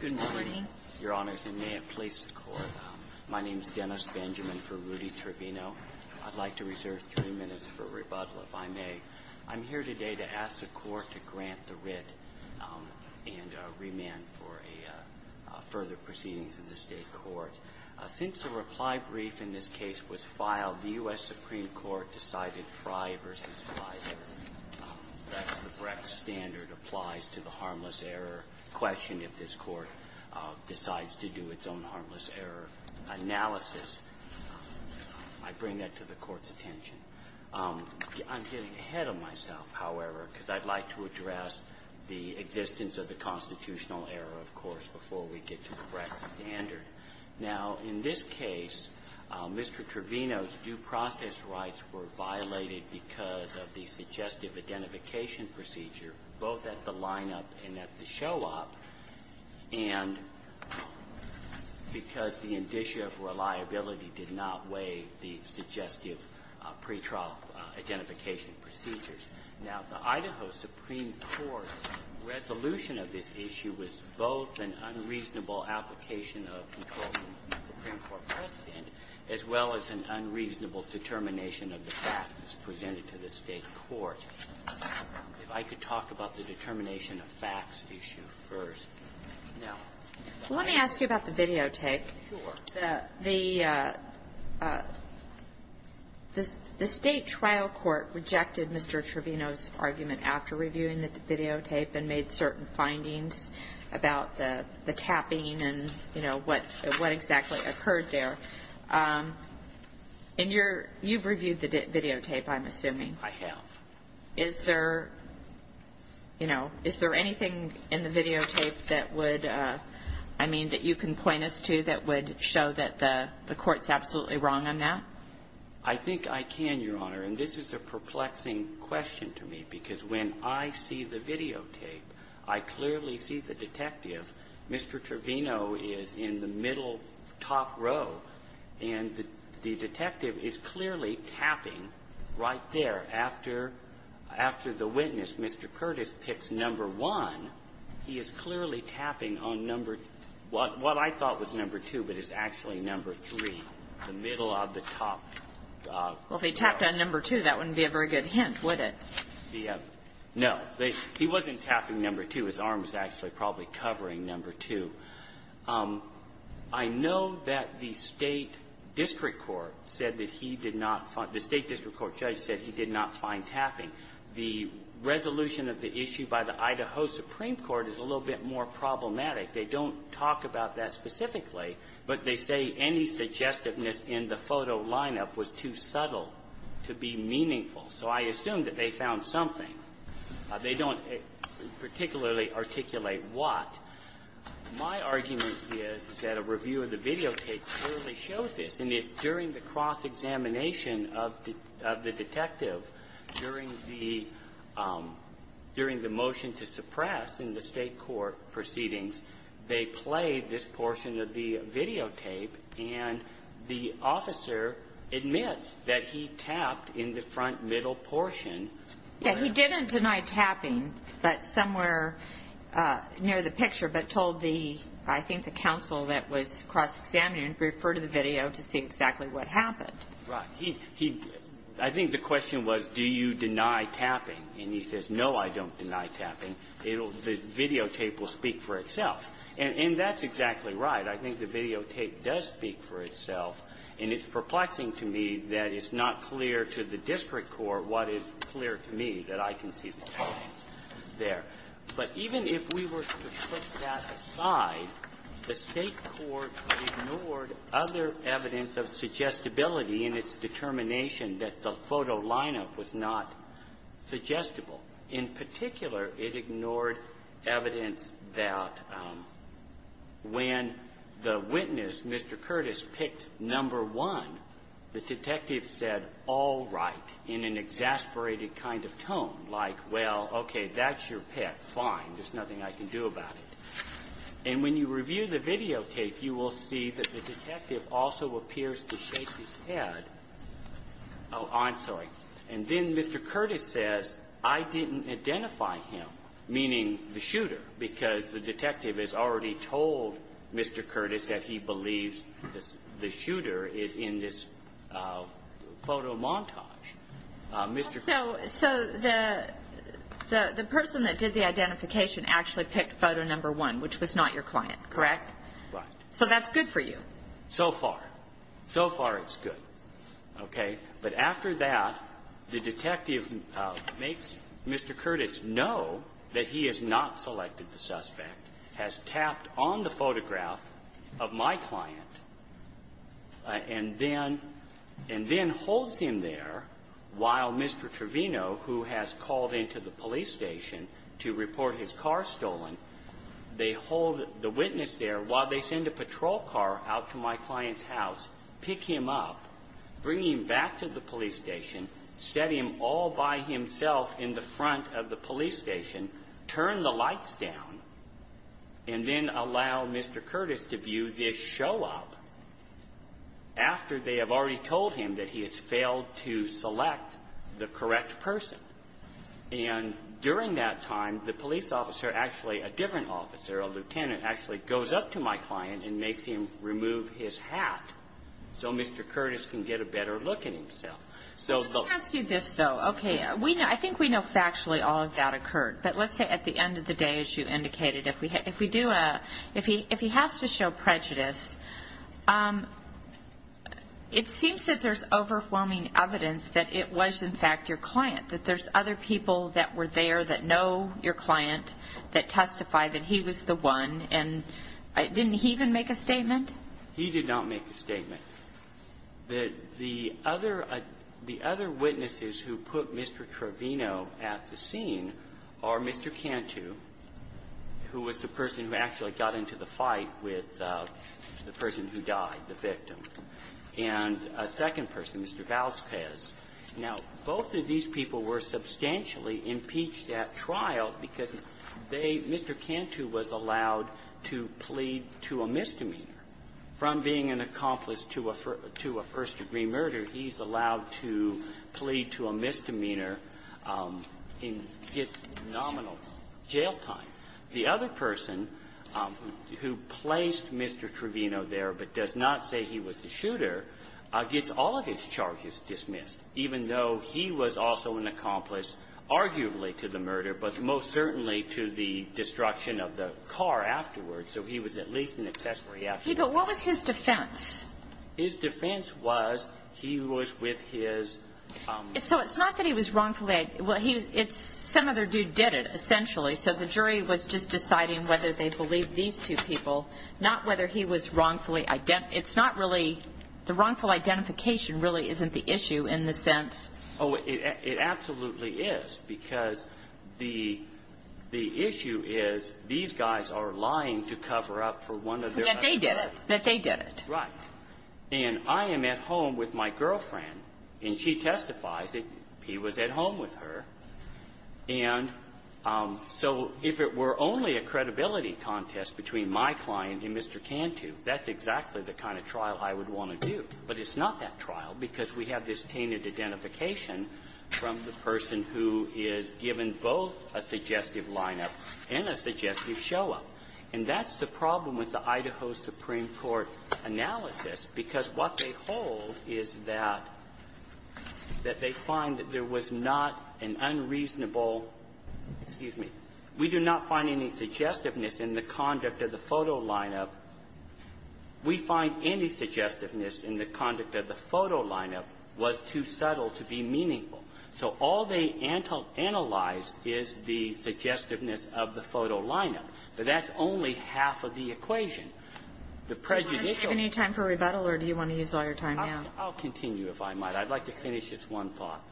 Good morning, Your Honors, and may it please the Court. My name is Dennis Benjamin for Rudy Trevino. I'd like to reserve three minutes for rebuttal, if I may. I'm here today to ask the Court to grant the writ and remand for further proceedings in the State Court. Since the reply brief in this case was filed, the U.S. Supreme Court decided Frey v. Fleisher. That's the Brex standard, applies to the harmless error question if this Court decides to do its own harmless error analysis. I bring that to the Court's attention. I'm getting ahead of myself, however, because I'd like to address the existence of the constitutional error, of course, before we get to the Brex standard. Now, in this case, Mr. Trevino's due process rights were violated because of the suggestive identification procedure, both at the lineup and at the show-up, and because the indicia of reliability did not weigh the suggestive pretrial identification procedures. Now, the Idaho Supreme Court's resolution of this issue was both an unreasonable application of control from the Supreme Court president, as well as an unreasonable determination of the facts as presented to the State court. If I could talk about the determination of facts issue first. Now, I'm going to ask you about the videotape. The State trial court rejected Mr. Trevino's argument after reviewing the videotape and made certain findings about the tapping and, you know, what exactly occurred there. And you've reviewed the videotape, I'm assuming. I have. Is there, you know, is there anything in the videotape that would, I mean, that you can point us to that would show that the court's absolutely wrong on that? I think I can, Your Honor. And this is a perplexing question to me, because when I see the videotape, I clearly see the detective. Mr. Trevino is in the middle top row, and the detective is clearly tapping right there after the witness, Mr. Curtis, picks number 1. He is clearly tapping on number what I thought was number 2, but is actually number 3, the middle of the top. Well, if he tapped on number 2, that wouldn't be a very good hint, would it? No. He wasn't tapping number 2. His arm was actually probably covering number 2. I know that the State district court said that he did not find the State district court judge said he did not find tapping. The resolution of the issue by the Idaho Supreme Court is a little bit more problematic. They don't talk about that specifically, but they say any suggestiveness in the photo lineup was too subtle to be meaningful. So I assume that they found something. They don't particularly articulate what. My argument is, is that a review of the videotape clearly shows this. And during the cross-examination of the detective, during the motion to suppress in the State court proceedings, they played this portion of the videotape, and the officer admits that he tapped in the front middle portion. He didn't deny tapping, but somewhere near the picture, but told the, I think, the counsel that was cross-examining, refer to the video to see exactly what happened. Right. He, I think the question was, do you deny tapping? And he says, no, I don't deny tapping. It'll, the videotape will speak for itself. And that's exactly right. I think the videotape does speak for itself. And it's perplexing to me that it's not clear to the district court what is clear to me, that I can see the tapping there. But even if we were to put that aside, the State court ignored other evidence of suggestibility in its determination that the photo lineup was not suggestible. In particular, it ignored evidence that when the witness, Mr. Curtis, picked number one, the detective said, all right, in an exasperated kind of tone, like, well, okay, that's your pick, fine, there's nothing I can do about it. And when you review the videotape, you will see that the detective also appears to shake his head. Oh, I'm sorry. And then Mr. Curtis says, I didn't identify him, meaning the shooter, because the detective has already told Mr. Curtis that he believes the shooter is in this photo montage. So the person that did the identification actually picked photo number one, which was not your client, correct? Right. So that's good for you. So far. So far it's good. Okay. But after that, the detective makes Mr. Curtis know that he has not selected the suspect, has tapped on the photograph of my client, and then holds him there while Mr. Trevino, who has called into the police station to report his car stolen, they hold the witness there while they send a patrol car out to my client's house, pick him up, bring him back to the police station, set him all by himself in the front of the police station, turn the lights down, and then allow Mr. Curtis to view this show up after they have already told him that he has failed to select the correct person. And during that time, the police officer, actually a different officer, a lieutenant, actually goes up to my client and makes him remove his hat so Mr. Curtis can get a better look at himself. Let me ask you this, though. Okay. I think we know factually all of that occurred. But let's say at the end of the day, as you indicated, if he has to evidence that it was, in fact, your client, that there's other people that were there that know your client, that testify that he was the one, and didn't he even make a statement? He did not make a statement. The other witnesses who put Mr. Trevino at the scene are Mr. Cantu, who was the person who actually got into the fight with the person who died, the victim, and a second person, Mr. Vazquez. Now, both of these people were substantially impeached at trial because they Mr. Cantu was allowed to plead to a misdemeanor. From being an accomplice to a first-degree murder, he's allowed to plead to a misdemeanor in nominal jail time. The other person who placed Mr. Trevino there but does not say he was the shooter gets all of his charges dismissed, even though he was also an accomplice arguably to the murder, but most certainly to the destruction of the car afterwards. So he was at least an accessory after that. Okay. But what was his defense? His defense was he was with his ---- So it's not that he was wrongfully ---- well, he was ---- some other dude did it, essentially. So the jury was just deciding whether they believed these two people, not whether he was wrongfully ---- it's not really ---- the wrongful identification really isn't the issue in the sense ---- Oh, it absolutely is, because the issue is these guys are lying to cover up for one of their ---- That they did it. That they did it. Right. And I am at home with my girlfriend, and she testifies that he was at home with her. And so if it were only a credibility contest between my client and Mr. Cantu, that's exactly the kind of trial I would want to do. But it's not that trial, because we have this tainted identification from the person who is given both a suggestive lineup and a suggestive show-up. And that's the problem with the Idaho Supreme Court analysis, because what they hold is that, that they find that there was not an unreasonable ---- excuse me. We do not find any suggestiveness in the conduct of the photo lineup. We find any suggestiveness in the conduct of the photo lineup was too subtle to be meaningful. So all they analyzed is the suggestiveness of the photo lineup. But that's only half of the equation. The prejudicial ---- I'll continue, if I might. I'd like to finish this one thought.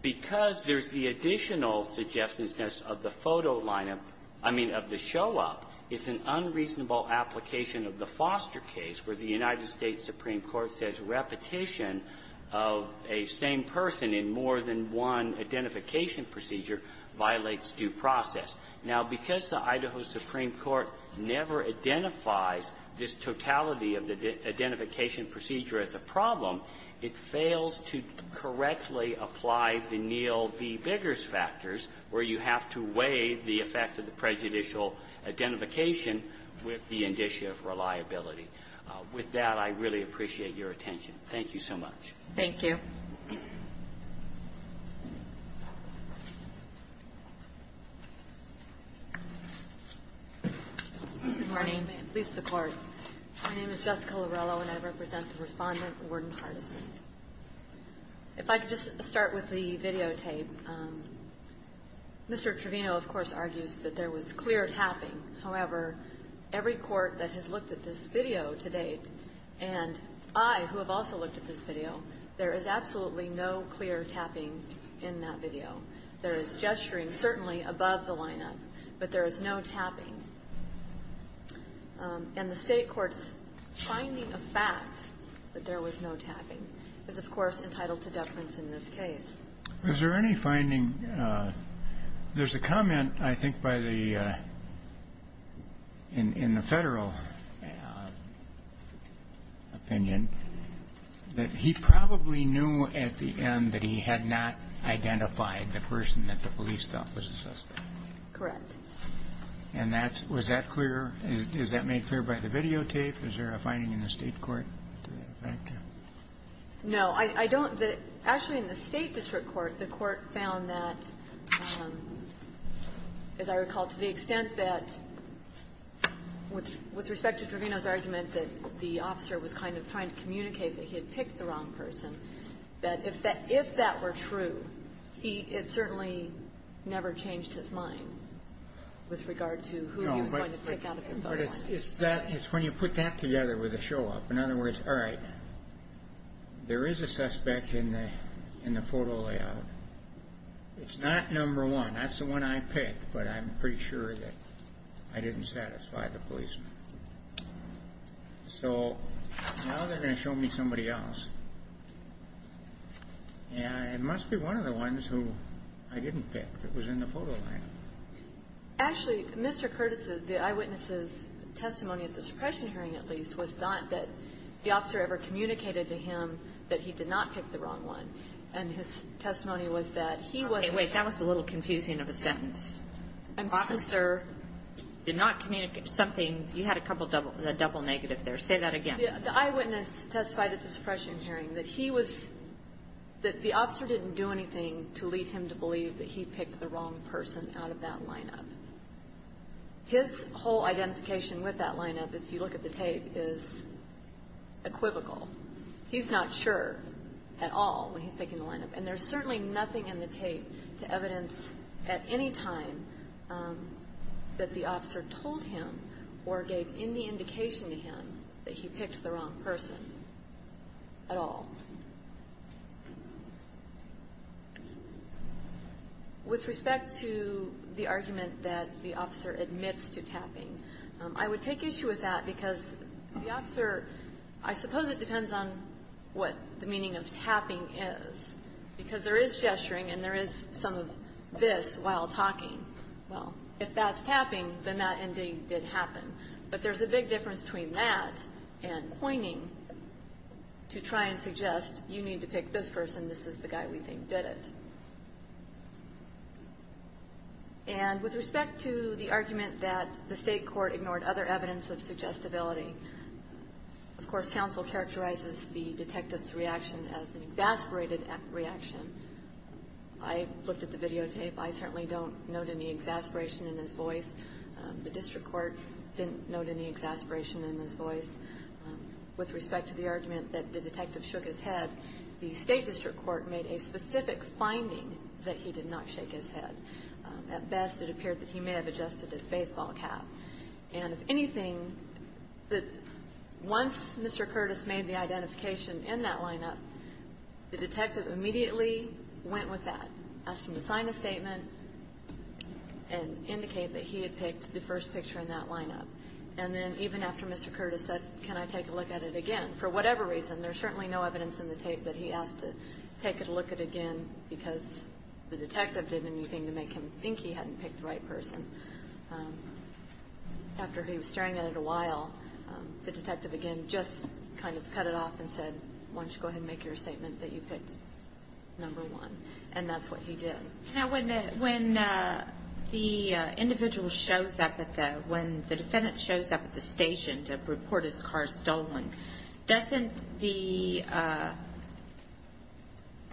Because there's the additional suggestiveness of the photo lineup, I mean, of the show-up, it's an unreasonable application of the Foster case, where the United States Supreme Court says repetition of a same person in more than one identification procedure violates due process. Now, because the Idaho Supreme Court never identifies this totality of the identification procedure as a problem, it fails to correctly apply the Neal v. Biggers factors, where you have to weigh the effect of the prejudicial identification with the indicia of reliability. With that, I really appreciate your attention. Thank you so much. Thank you. Good morning, and please support. My name is Jessica Lorello, and I represent the Respondent, Warden Hardison. If I could just start with the videotape. Mr. Trevino, of course, argues that there was clear tapping. However, every court that has looked at this video to date, and I, who have also looked at this video, there is absolutely no clear tapping in that video. There is gesturing, certainly above the lineup, but there is no tapping. And the State court's finding of fact that there was no tapping is, of course, entitled to deference in this case. Is there any finding? There's a comment, I think, by the, in the Federal opinion, that he probably knew at the end that he had not identified the person that the police thought was a suspect. Correct. And that's, was that clear? Is that made clear by the videotape? Is there a finding in the State court to that effect? No. I don't, the, actually in the State district court, the court found that, as I recall, to the extent that, with respect to Trevino's argument that the officer was kind of trying to communicate that he had picked the wrong person, that if that were true, he, it certainly never changed his mind. With regard to who he was going to pick out of the phone lines. No, but it's that, it's when you put that together with a show-off. In other words, all right, there is a suspect in the, in the photo layout. It's not number one. That's the one I picked, but I'm pretty sure that I didn't satisfy the policeman. So, now they're going to show me somebody else. And it must be one of the ones who I didn't pick that was in the photo layout. Actually, Mr. Curtis's, the eyewitness's testimony at the suppression hearing, at least, was not that the officer ever communicated to him that he did not pick the wrong one. And his testimony was that he wasn't sure. Okay, wait, that was a little confusing of a sentence. I'm sorry. The officer did not communicate something, you had a couple double, a double negative there. Say that again. The eyewitness testified at the suppression hearing that he was, that the officer didn't do anything to lead him to believe that he picked the wrong person out of that lineup. His whole identification with that lineup, if you look at the tape, is equivocal. He's not sure at all when he's picking the lineup. And there's certainly nothing in the tape to evidence at any time that the officer told him or gave any indication to him that he picked the wrong person at all. With respect to the argument that the officer admits to tapping, I would take issue with that because the officer, I suppose it depends on what the meaning of tapping is. Because there is gesturing and there is some of this while talking. Well, if that's tapping, then that indeed did happen. But there's a big difference between that and pointing to try and suggest, you need to pick this person, this is the guy we think did it. And with respect to the argument that the state court ignored other evidence of suggestibility, of course, counsel characterizes the detective's reaction as an exasperated reaction. I looked at the videotape. I certainly don't note any exasperation in his voice. The district court didn't note any exasperation in his voice. With respect to the argument that the detective shook his head, the state district court made a specific finding that he did not shake his head. At best, it appeared that he may have adjusted his baseball cap. And if anything, once Mr. Curtis made the identification in that lineup, the detective immediately went with that. Asked him to sign a statement and indicate that he had picked the first picture in that lineup. And then even after Mr. Curtis said, can I take a look at it again? For whatever reason, there's certainly no evidence in the tape that he asked to take a look at it again because the detective didn't do anything to make him think he hadn't picked the right person. After he was staring at it a while, the detective again just kind of cut it off and said, why don't you go ahead and make your statement that you picked number one? And that's what he did. Now, when the individual shows up at the, when the defendant shows up at the station to report his car stolen, doesn't the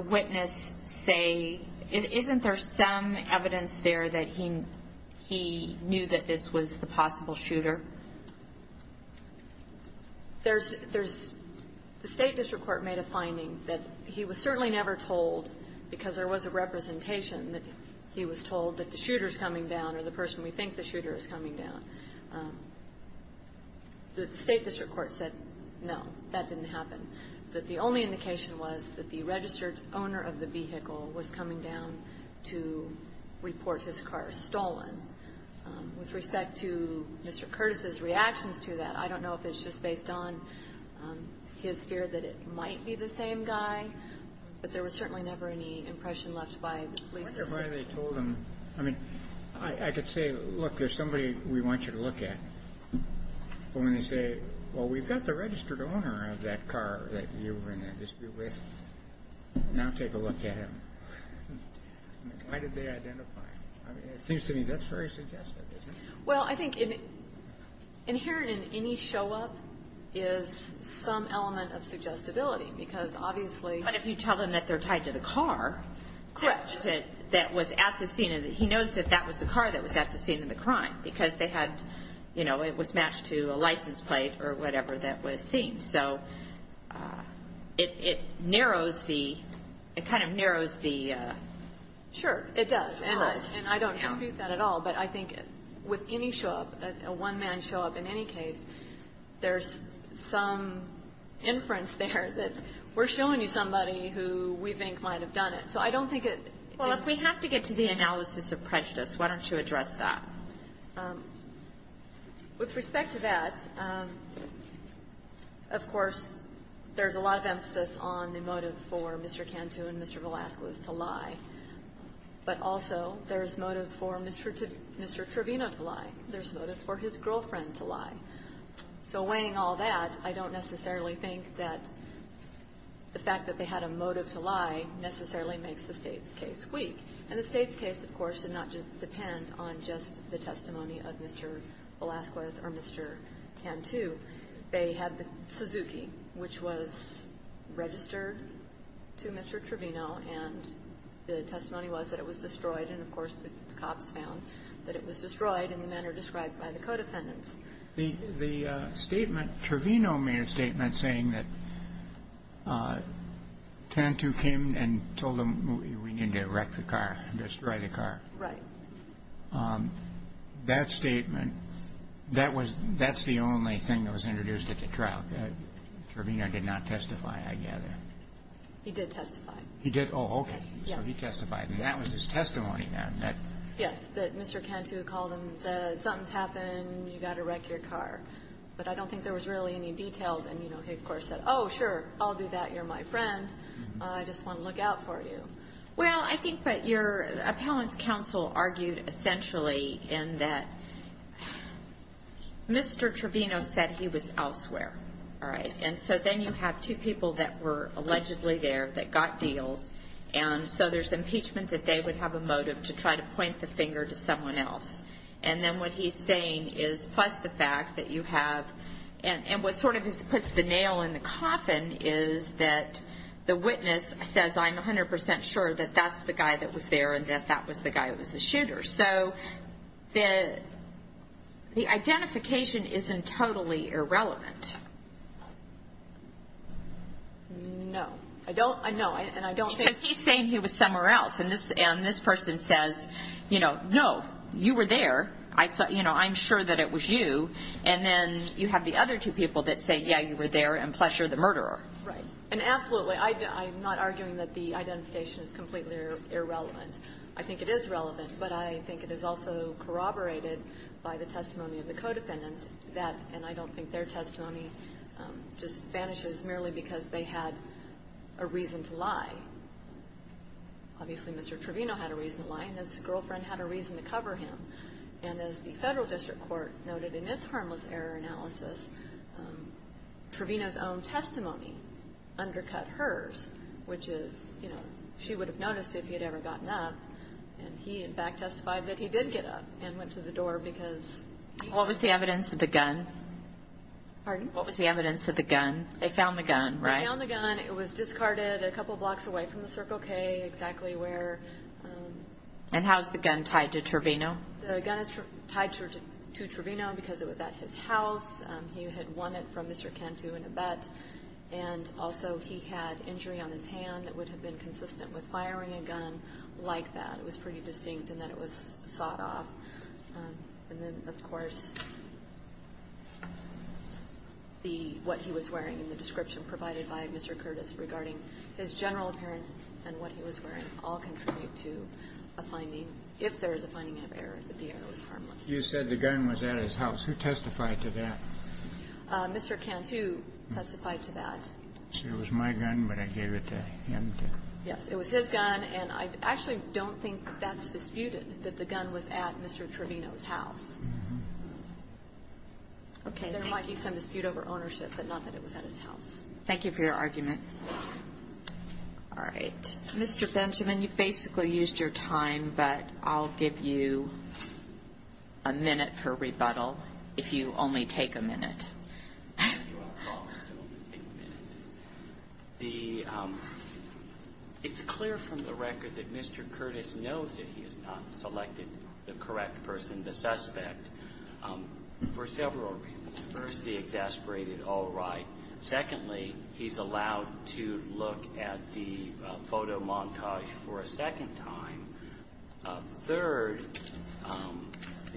witness say, isn't there some evidence there that he knew that this was the possible shooter? There's, there's, the State District Court made a finding that he was certainly never told, because there was a representation that he was told that the shooter's coming down or the person we think the shooter is coming down. The State District Court said, no, that didn't happen. That the only indication was that the registered owner of the vehicle was coming down to report his car stolen. With respect to Mr. Curtis's reactions to that, I don't know if it's just based on his fear that it might be the same guy. But there was certainly never any impression left by the police. I wonder why they told him, I mean, I could say, look, there's somebody we want you to look at. But when they say, well, we've got the registered owner of that car that you were in that dispute with, now take a look at him. Why did they identify him? It seems to me that's very suggestive, isn't it? Well, I think inherent in any show up is some element of suggestibility, because obviously- But if you tell them that they're tied to the car- Correct. That was at the scene, and he knows that that was the car that was at the scene of the crime, because they had, you know, it was matched to a license plate or whatever that was seen. So, it, it narrows the, it kind of narrows the- Sure, it does. And I don't dispute that at all. But I think with any show up, a one-man show up in any case, there's some inference there that we're showing you somebody who we think might have done it. So, I don't think it- Well, if we have to get to the analysis of prejudice, why don't you address that? With respect to that, of course, there's a lot of emphasis on the motive for Mr. Cantu and Mr. Velasquez to lie. But also, there's motive for Mr. Trevino to lie. There's motive for his girlfriend to lie. So, weighing all that, I don't necessarily think that the fact that they had a motive to lie necessarily makes the State's case weak. And the State's case, of course, did not depend on just the testimony of Mr. Velasquez or Mr. Cantu. They had the Suzuki, which was registered to Mr. Trevino, and the testimony was that it was destroyed. And, of course, the cops found that it was destroyed in the manner described by the co-defendants. The statement, Trevino made a statement saying that Cantu came and told him we need to wreck the car, destroy the car. Right. That statement, that's the only thing that was introduced at the trial, that Trevino did not testify, I gather. He did testify. He did? Oh, okay. Yes. So, he testified. And that was his testimony, then. Yes, that Mr. Cantu called and said, something's happened, you've got to wreck your car. But I don't think there was really any details, and he, of course, said, oh, sure, I'll do that, you're my friend, I just want to look out for you. Well, I think what your appellant's counsel argued, essentially, in that Mr. Trevino said he was elsewhere, all right? And so then you have two people that were allegedly there that got deals, and so there's impeachment that they would have a motive to try to point the finger to someone else. And then what he's saying is, plus the fact that you have, and what sort of puts the nail in the coffin is that the witness says, I'm 100% sure that that's the guy that was there and that that was the guy that was the shooter. So, the identification isn't totally irrelevant. No. I don't, no, and I don't think. Because he's saying he was somewhere else, and this person says, no, you were there, I'm sure that it was you, and then you have the other two people that say, yeah, you were there, and plus you're the murderer. Right, and absolutely, I'm not arguing that the identification is completely irrelevant. I think it is relevant, but I think it is also corroborated by the testimony of the co-defendants that, and I don't think their testimony just vanishes merely because they had a reason to lie. Obviously, Mr. Trevino had a reason to lie, and his girlfriend had a reason to cover him. And as the federal district court noted in its harmless error analysis, Trevino's own testimony undercut hers, which is, she would have noticed if he had ever gotten up, and he, in fact, testified that he did get up and went to the door because. What was the evidence of the gun? Pardon? What was the evidence of the gun? They found the gun, right? They found the gun. It was discarded a couple blocks away from the Circle K, exactly where. And how is the gun tied to Trevino? The gun is tied to Trevino because it was at his house. He had won it from Mr. Cantu in a bet, and also he had injury on his hand that would have been consistent with firing a gun like that. It was pretty distinct in that it was sawed off. And then, of course, the what he was wearing and the description provided by Mr. Curtis regarding his general appearance and what he was wearing all contribute to a finding, if there is a finding of error, that the error was harmless. You said the gun was at his house. Who testified to that? Mr. Cantu testified to that. So it was my gun, but I gave it to him to ---- Yes. It was his gun. And I actually don't think that's disputed, that the gun was at Mr. Trevino's house. Okay. There might be some dispute over ownership, but not that it was at his house. Thank you for your argument. All right. Mr. Benjamin, you basically used your time, but I'll give you a minute for rebuttal if you only take a minute. It's clear from the record that Mr. Curtis knows that he has not selected the correct person, the suspect, for several reasons. First, he exasperated all right. Secondly, he's allowed to look at the photo montage for a second time. Third,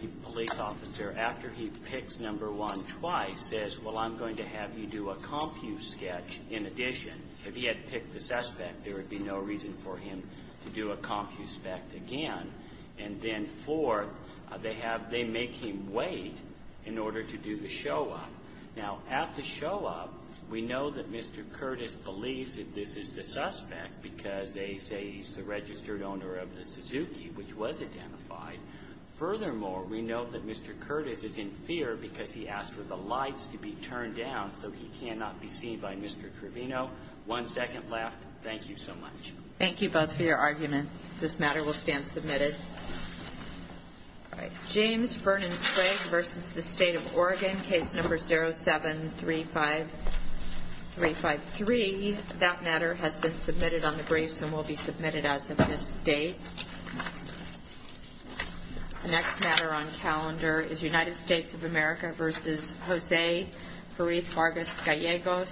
the police officer, after he picks number one twice, says, well, I'm going to have you do a compu sketch in addition. If he had picked the suspect, there would be no reason for him to do a compu spec again. And then fourth, they make him wait in order to do the show up. Now, at the show up, we know that Mr. Curtis believes that this is the suspect because they say he's the registered owner of the Suzuki, which was identified. Furthermore, we know that Mr. Curtis is in fear because he asked for the lights to be turned down so he cannot be seen by Mr. Trevino. One second left. Thank you so much. Thank you both for your argument. This matter will stand submitted. All right. James Fernand Sprague versus the state of Oregon, case number 0735353. That matter has been submitted on the briefs and will be submitted as of this date. The next matter on calendar is United States of America versus Jose Periz Vargas Gallegos.